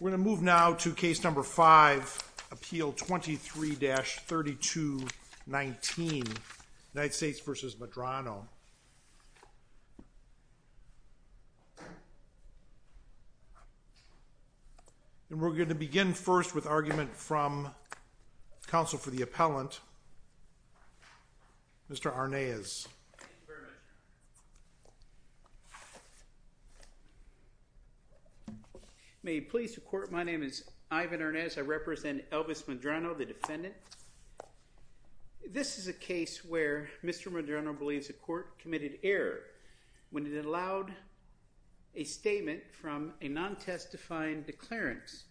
We're going to move now to case number 5, appeal 23-3219, United States v. Medrano. And we're going to begin first with argument from counsel for the appellant, Mr. Arnaez. Thank you very much. May it please the court, my name is Ivan Arnaez, I represent Elvis Medrano, the defendant. This is a case where Mr. Medrano believes a court committed error when it allowed a statement from a non-testifying declarant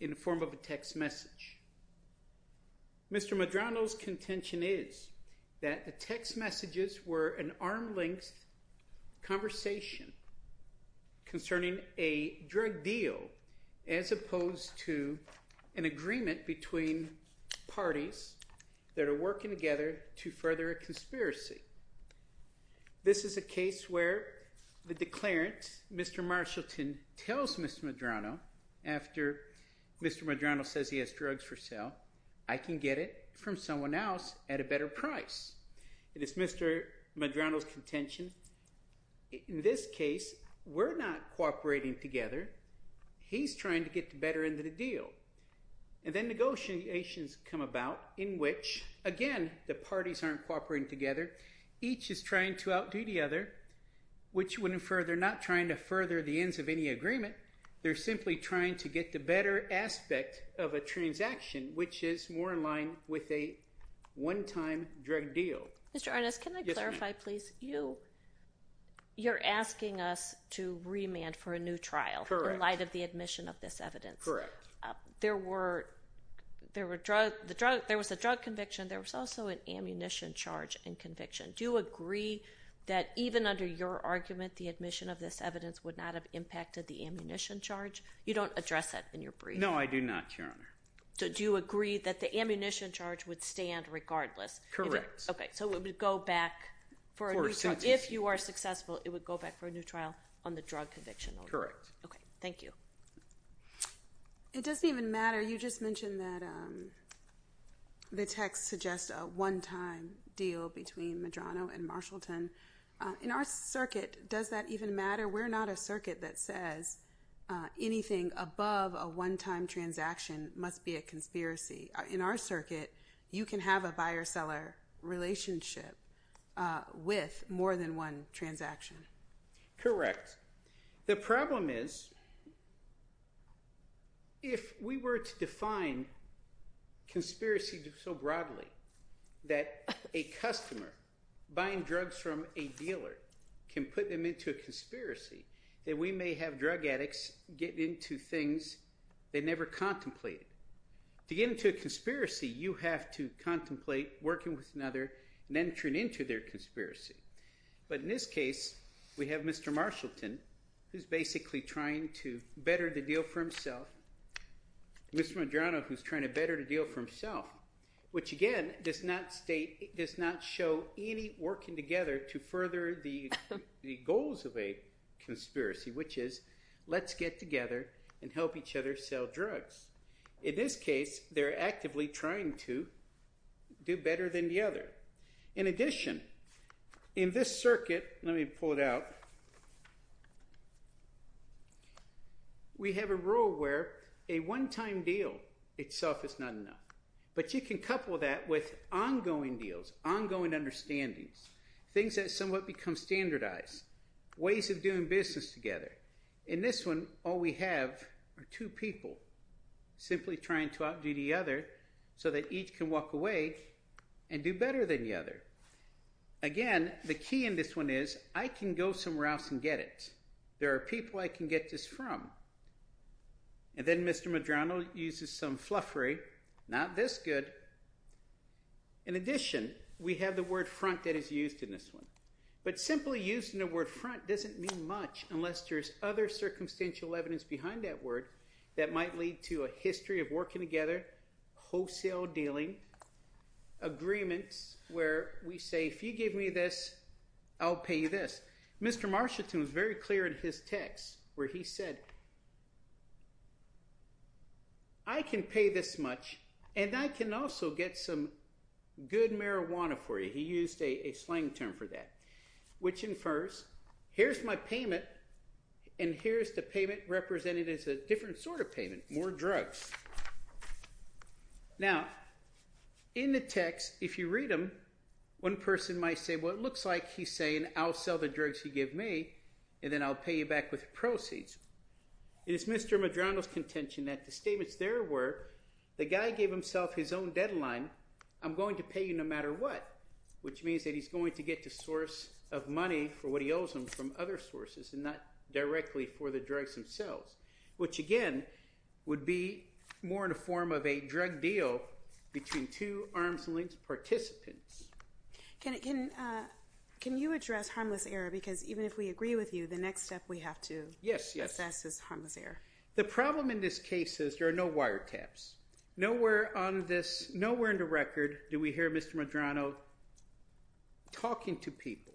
in the form of a text message. Mr. Medrano's contention is that the text messages were an arm length conversation concerning a drug deal as opposed to an agreement between parties that are working together to further a conspiracy. This is a case where the declarant, Mr. Marshallton, tells Mr. Medrano after Mr. Medrano says he has drugs for sale, I can get it from someone else at a better price. It is Mr. Medrano's cooperating together, he's trying to get the better end of the deal. And then negotiations come about in which, again, the parties aren't cooperating together, each is trying to outdo the other, which would infer they're not trying to further the ends of any agreement, they're simply trying to get the better aspect of a transaction, which is more in line with a one-time drug deal. Mr. Arnaez, can I clarify please? You're asking us to remand for a new trial in light of the admission of this evidence. There was a drug conviction, there was also an ammunition charge and conviction. Do you agree that even under your argument the admission of this evidence would not have impacted the ammunition charge? You don't address that in your brief. No, I do not, Your Honor. Do you agree that the ammunition charge would stand regardless? Correct. So it would go back for a new trial. If you are successful, it would go back for a new trial on the drug conviction? Correct. Okay, thank you. It doesn't even matter. You just mentioned that the text suggests a one-time deal between Medrano and Marshallton. In our circuit, does that even matter? We're not a circuit that says anything above a one-time transaction must be a conspiracy. In our circuit, you can have a buyer-seller relationship with more than one transaction. Correct. The problem is if we were to define conspiracy so broadly that a customer buying drugs from a dealer can put them into a conspiracy, then we may have drug addicts get into things they never contemplated. To get into a conspiracy, you have to contemplate working with another and entering into their conspiracy. But in this case, we have Mr. Marshallton, who's basically trying to better the deal for himself, and Mr. Medrano, who's trying to better the deal for himself, which again does not show any working together to further the goals of a conspiracy, which is let's get together and help each other sell drugs. In this case, they're actively trying to do better than the other. In addition, in this circuit, let me pull it out, we have a rule where a one-time deal itself is not enough. But you can couple that with ongoing deals, ongoing understandings, things that somewhat become standardized, ways of doing business together. In this one, all we have are two people simply trying to outdo the other so that each can walk away and do better than the other. Again, the key in this one is I can go somewhere else and get it. There are people I can get this from. And then Mr. Medrano uses some fluffery, not this good. In addition, we have the word front that is used in this one. But simply using the word front doesn't mean much unless there's other circumstantial evidence behind that word that might lead to a history of working together, wholesale dealing, agreements where we say if you give me this, I'll pay you this. Mr. Marshallton was very clear in his text where he said, I can pay this much and I can also get some good marijuana for you. He used a slang term for that, which infers here's my payment and here's the payment represented as a different sort of payment, more drugs. Now, in the text, if you read them, one person might say, well, it looks like he's saying I'll sell the drugs he gave me and then I'll pay you back with proceeds. It is Mr. Medrano's contention that the statements there were the guy gave himself his own deadline. I'm going to pay you no matter what, which means that he's going to get the source of money for what he owes him from other sources and not directly for the drugs themselves, which again would be more in a form of a drug deal between two arm's length participants. Can you address harmless error? Because even if we agree with you, the next step we have to assess is harmless error. The problem in this case is there are no wiretaps. Nowhere in the record do we hear Mr. Medrano talking to people.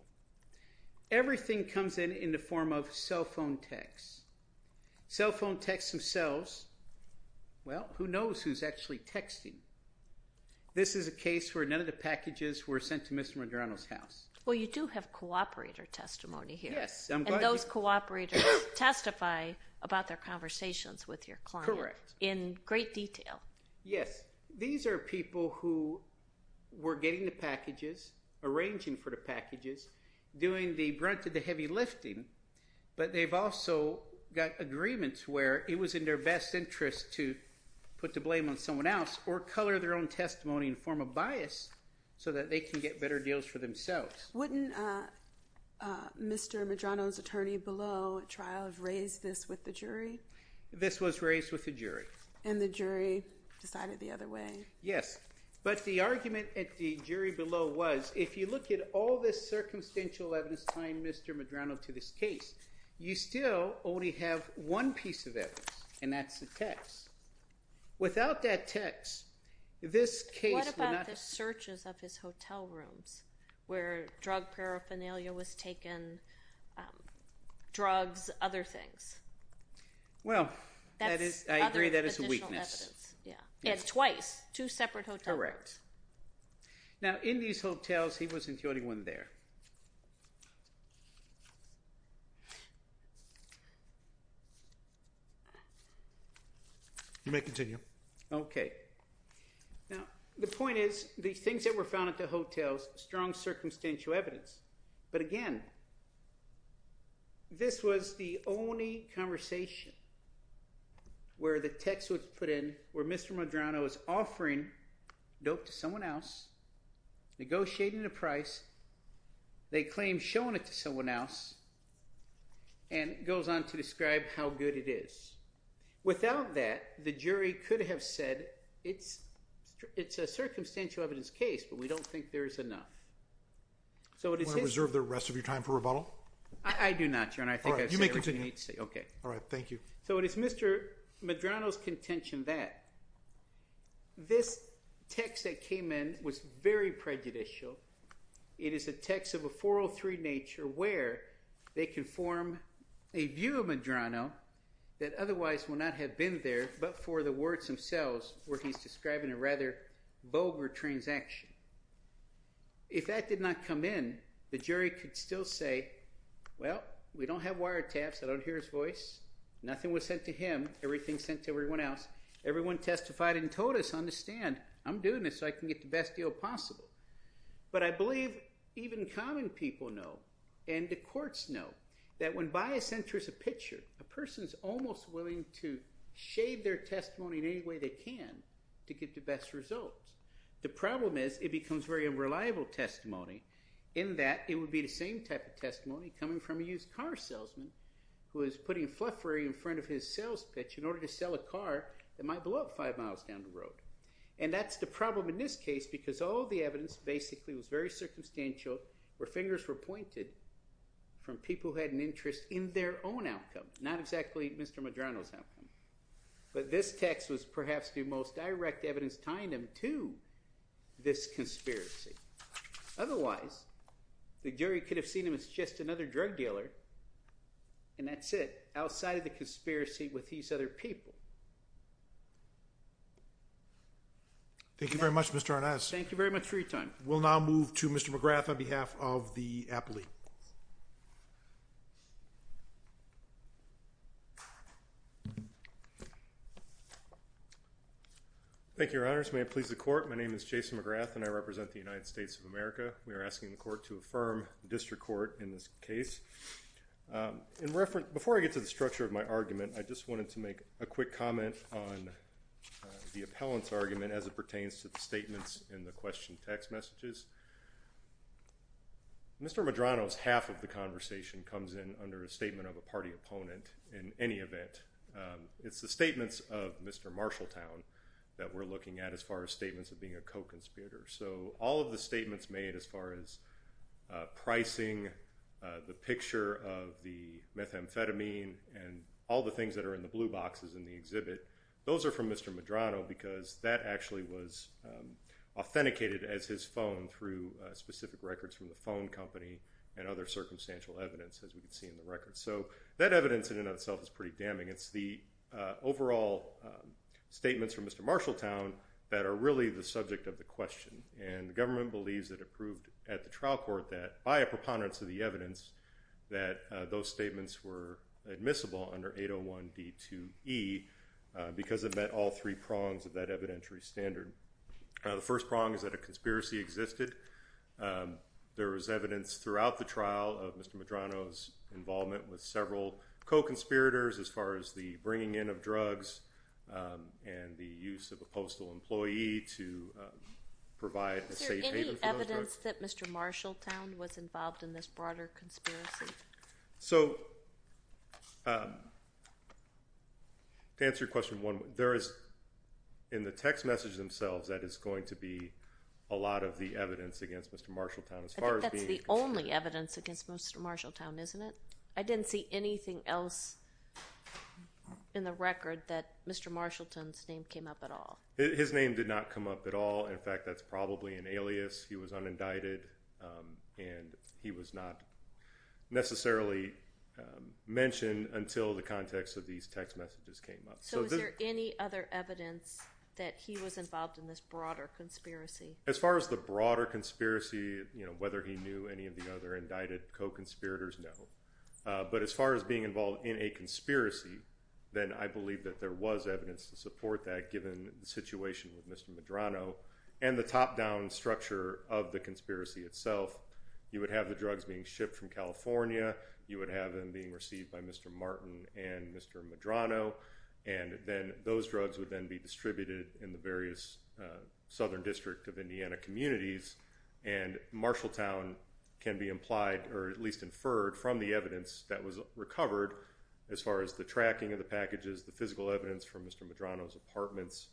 Everything comes in in the form of cell phone texts. Cell phone texts themselves. Well, who knows who's actually texting? This is a case where none of the packages were sent to Mr. Medrano's house. Well, you do have cooperator testimony here. Yes. And those cooperators testify about their conversations with your client in great detail. Yes. These are people who were getting the packages, arranging for the packages, doing the brunt of the heavy lifting, but they've also got agreements where it was in their best interest to put the blame on someone else or color their own testimony in the form of bias so that they can get better deals for themselves. Wouldn't Mr. Medrano's attorney below at trial have raised this with the jury? This was raised with the jury. And the jury decided the other way? Yes. But the argument at the jury below was, if you look at all this circumstantial evidence tying Mr. Medrano to this case, you still only have one piece of evidence, and that's the text. Without that text, this case would not have... What about the searches of his hotel rooms where drug paraphernalia was taken, drugs, other things? Well, I agree that is a weakness. It's twice, two separate hotels. Correct. Now, in these hotels, he wasn't the only one there. You may continue. Okay. Now, the point is, the things that were found at the hotels, strong circumstantial evidence. But again, this was the only conversation where the text was put in, where Mr. Medrano is offering dope to someone else, negotiating the price, they claim showing it to someone else, and it goes on to describe how good it is. Without that, the jury could have said, it's a circumstantial evidence case, but we don't think there is enough. Do you want to reserve the rest of your time for rebuttal? I do not, Your Honor. You may continue. Okay. All right. Thank you. So it is Mr. Medrano's contention that this text that came in was very prejudicial. It is a text of a 403 nature where they can form a view of Medrano that otherwise would not have been there but for the words themselves where he's describing a rather vulgar transaction. If that did not come in, the jury could still say, well, we don't have wiretaps, I don't hear his voice, nothing was sent to him, everything's sent to everyone else, everyone testified and told us, understand, I'm doing this so I can get the best deal possible. But I believe even common people know, and the courts know, that when bias enters a picture, a person's almost willing to shade their testimony in any way they can to get the best results. The problem is it becomes very unreliable testimony in that it would be the same type of testimony coming from a used car salesman who is putting fluffery in front of his sales pitch in order to sell a car that might blow up five miles down the road. And that's the problem in this case because all the evidence basically was very circumstantial, where fingers were pointed from people who had an interest in their own outcome, not exactly Mr. Medrano's outcome. But this text was perhaps the most direct evidence tying them to this conspiracy. Otherwise, the jury could have seen him as just another drug dealer, and that's it, outside of the conspiracy with these other people. Thank you very much, Mr. Arnaz. Thank you very much for your time. We'll now move to Mr. McGrath on behalf of the appellate. Thank you, Your Honors. May it please the Court, my name is Jason McGrath, and I represent the United States of America. We are asking the Court to affirm the District Court in this case. Before I get to the structure of my argument, I just wanted to make a quick comment on the Mr. Medrano's half of the conversation comes in under a statement of a party opponent in any event. It's the statements of Mr. Marshalltown that we're looking at as far as statements of being a co-conspirator. So, all of the statements made as far as pricing, the picture of the methamphetamine, and all the things that are in the blue boxes in the exhibit, those are from Mr. Medrano because that actually was authenticated as his phone through specific records from the phone company and other circumstantial evidence, as we can see in the records. So, that evidence in and of itself is pretty damning. It's the overall statements from Mr. Marshalltown that are really the subject of the question. And the government believes that it proved at the trial court that, by a preponderance of the evidence, that those statements were admissible under 801D2E because it met all three prongs of that evidentiary standard. The first prong is that a conspiracy existed. There was evidence throughout the trial of Mr. Medrano's involvement with several co-conspirators as far as the bringing in of drugs and the use of a postal employee to provide a safe haven for those drugs. Is there any evidence that Mr. Marshalltown was involved in this broader conspiracy? So, to answer your question, there is, in the text message themselves, that is going to be a lot of the evidence against Mr. Marshalltown. I think that's the only evidence against Mr. Marshalltown, isn't it? I didn't see anything else in the record that Mr. Marshalltown's name came up at all. His name did not come up at all. In fact, that's probably an alias. He was unindicted and he was not necessarily mentioned until the context of these text messages came up. So, is there any other evidence that he was involved in this broader conspiracy? As far as the broader conspiracy, whether he knew any of the other indicted co-conspirators, no. But, as far as being involved in a conspiracy, then I believe that there was evidence to of the conspiracy itself. You would have the drugs being shipped from California. You would have them being received by Mr. Martin and Mr. Medrano, and then those drugs would then be distributed in the various southern district of Indiana communities. And, Marshalltown can be implied, or at least inferred, from the evidence that was recovered as far as the tracking of the packages, the physical evidence from Mr. Medrano's apartments,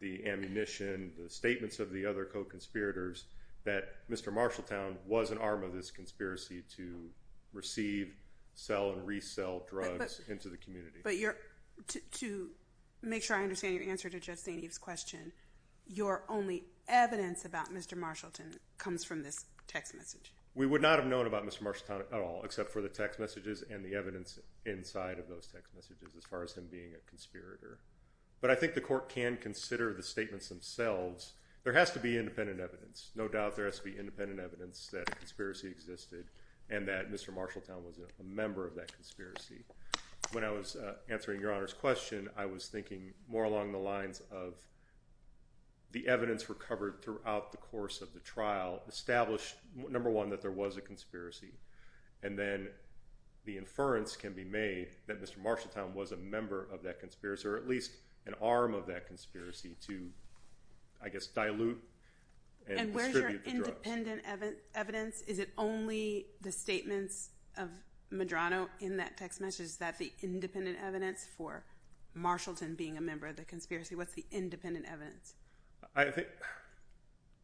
the ammunition, the statements of the other co-conspirators, that Mr. Marshalltown was an arm of this conspiracy to receive, sell, and resell drugs into the community. But, to make sure I understand your answer to Justine Eve's question, your only evidence about Mr. Marshallton comes from this text message? We would not have known about Mr. Marshalltown at all, except for the text messages and the evidence inside of those text messages as far as him being a conspirator. But, I think the court can consider the statements themselves. There has to be independent evidence. No doubt there has to be independent evidence that a conspiracy existed and that Mr. Marshalltown was a member of that conspiracy. When I was answering Your Honor's question, I was thinking more along the lines of the evidence recovered throughout the course of the trial established, number one, that there was a conspiracy. And then, the inference can be made that Mr. Marshalltown was a member of that conspiracy, or at least an arm of that conspiracy to, I guess, dilute and distribute the drugs. And, where's your independent evidence? Is it only the statements of Medrano in that text message? Is that the independent evidence for Marshalltown being a member of the conspiracy? What's the independent evidence? I think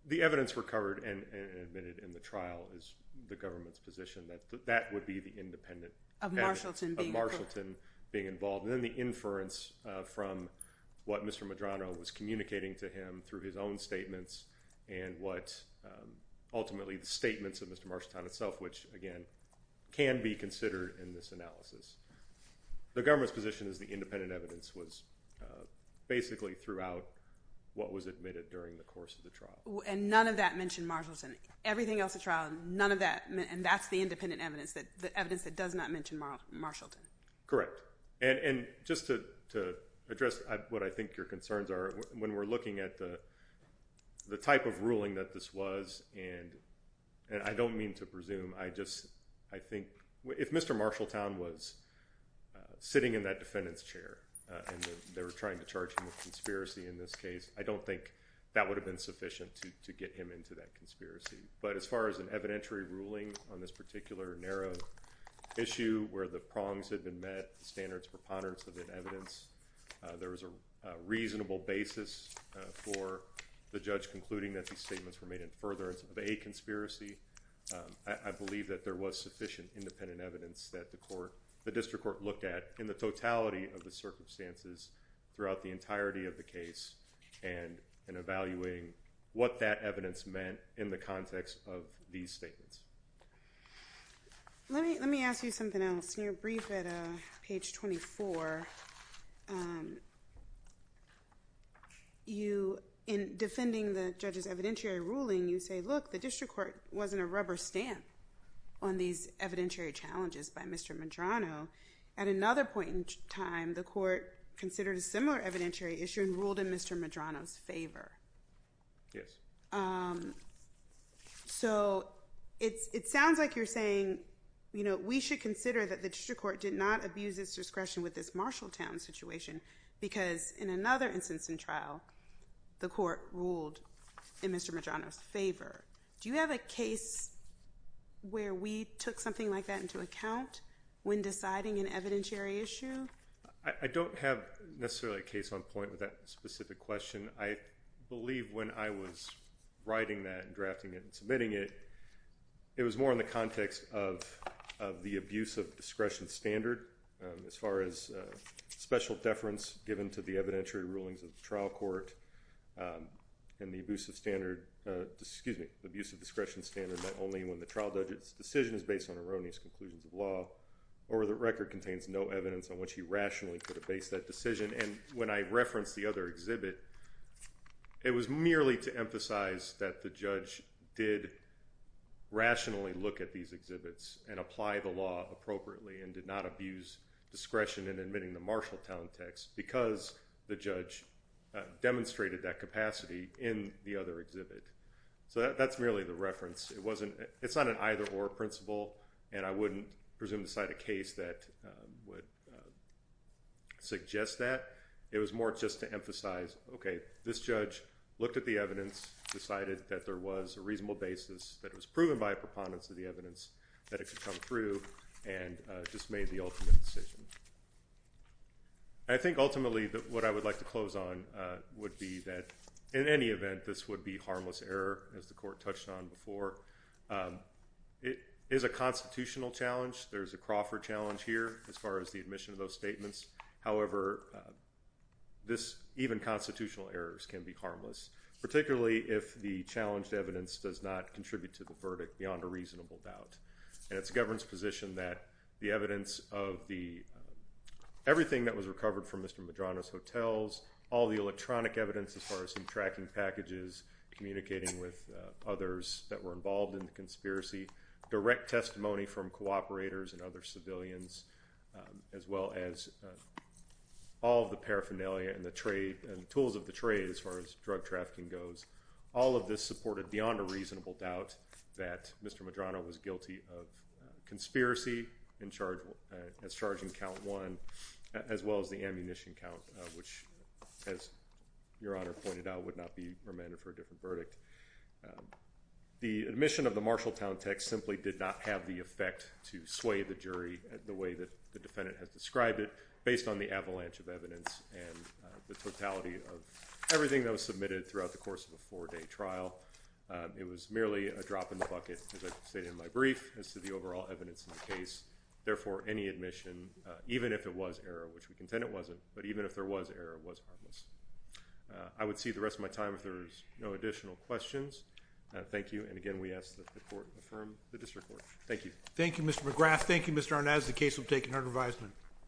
the evidence recovered and admitted in the trial is the government's position that that would be the independent evidence of Marshalltown being involved. And then, the inference from what Mr. Medrano was communicating to him through his own statements and what ultimately the statements of Mr. Marshalltown itself, which again, can be considered in this analysis. The government's position is the independent evidence was basically throughout what was admitted during the course of the trial. And, none of that mentioned Marshalltown? Everything else in the trial, none of that? And, that's the independent evidence, the evidence that does not mention Marshalltown? Correct. And, just to address what I think your concerns are, when we're looking at the type of ruling that this was, and I don't mean to presume. I just, I think if Mr. Marshalltown was sitting in that defendant's chair and they were trying to charge him with conspiracy in this case, I don't think that would have been sufficient to get him into that conspiracy. But, as far as an evidentiary ruling on this particular narrow issue where the prongs had been met, the standards were pondered, so there's evidence. There was a reasonable basis for the judge concluding that these statements were made in furtherance of a conspiracy. I believe that there was sufficient independent evidence that the court, the district court looked at in the totality of the circumstances throughout the entirety of the case and evaluating what that evidence meant in the context of these statements. Let me ask you something else. In your brief at page 24, you, in defending the judge's evidentiary ruling, you say, look, the district court wasn't a rubber stamp on these evidentiary challenges by Mr. Medrano. At another point in time, the court considered a similar evidentiary issue and ruled in Mr. Medrano's favor. Yes. So, it sounds like you're saying, you know, we should consider that the district court did not abuse its discretion with this Marshalltown situation because in another instance in trial, the court ruled in Mr. Medrano's favor. Do you have a case where we took something like that into account when deciding an evidentiary issue? I don't have necessarily a case on point with that specific question. I believe when I was writing that and drafting it and submitting it, it was more in the context of the abuse of discretion standard as far as special deference given to the evidentiary rulings of the trial court and the abuse of standard, excuse me, the abuse of discretion standard that only when the trial judge's decision is based on erroneous conclusions of law or the record contains no evidence on which he rationally could have based that decision. And when I referenced the other exhibit, it was merely to emphasize that the judge did rationally look at these exhibits and apply the law appropriately and did not abuse discretion in admitting the Marshalltown text because the judge demonstrated that capacity in the other exhibit. So, that's merely the reference. It's not an either-or principle and I wouldn't presume to cite a case that would suggest that. It was more just to emphasize, okay, this judge looked at the evidence, decided that there was a reasonable basis that it was proven by a preponderance of the evidence that it could come through and just made the ultimate decision. I think ultimately what I would like to close on would be that in any event, this would be harmless error as the court touched on before. It is a constitutional challenge. There's a Crawford challenge here, as far as the admission of those statements. However, even constitutional errors can be harmless, particularly if the challenged evidence does not contribute to the verdict beyond a reasonable doubt. And it's the government's position that the evidence of the everything that was recovered from Mr. Medrano's hotels, all the electronic evidence as far as some tracking packages, communicating with others that were involved in the conspiracy, direct testimony from cooperators and other civilians, as well as all the paraphernalia and the tools of the trade as far as drug trafficking goes, all of this supported beyond a reasonable doubt that Mr. Medrano was guilty of conspiracy as charged in count one, as well as the ammunition count, which as Your Honor pointed out, would not be remanded for a different verdict. The admission of the Marshalltown text simply did not have the effect to sway the jury the way that the defendant has described it based on the avalanche of evidence and the totality of everything that was submitted throughout the course of a four-day trial. It was merely a drop in the bucket, as I stated in my brief, as to the overall evidence in the case. Therefore, any admission, even if it was error, which we contend it wasn't, but even if there was error, was harmless. I would see the rest of my time if there's no additional questions. Thank you. And again, we ask that the Court affirm the District Court. Thank you. Thank you, Mr. McGrath. Thank you, Mr. Arnaz. The case will be taken under advisement.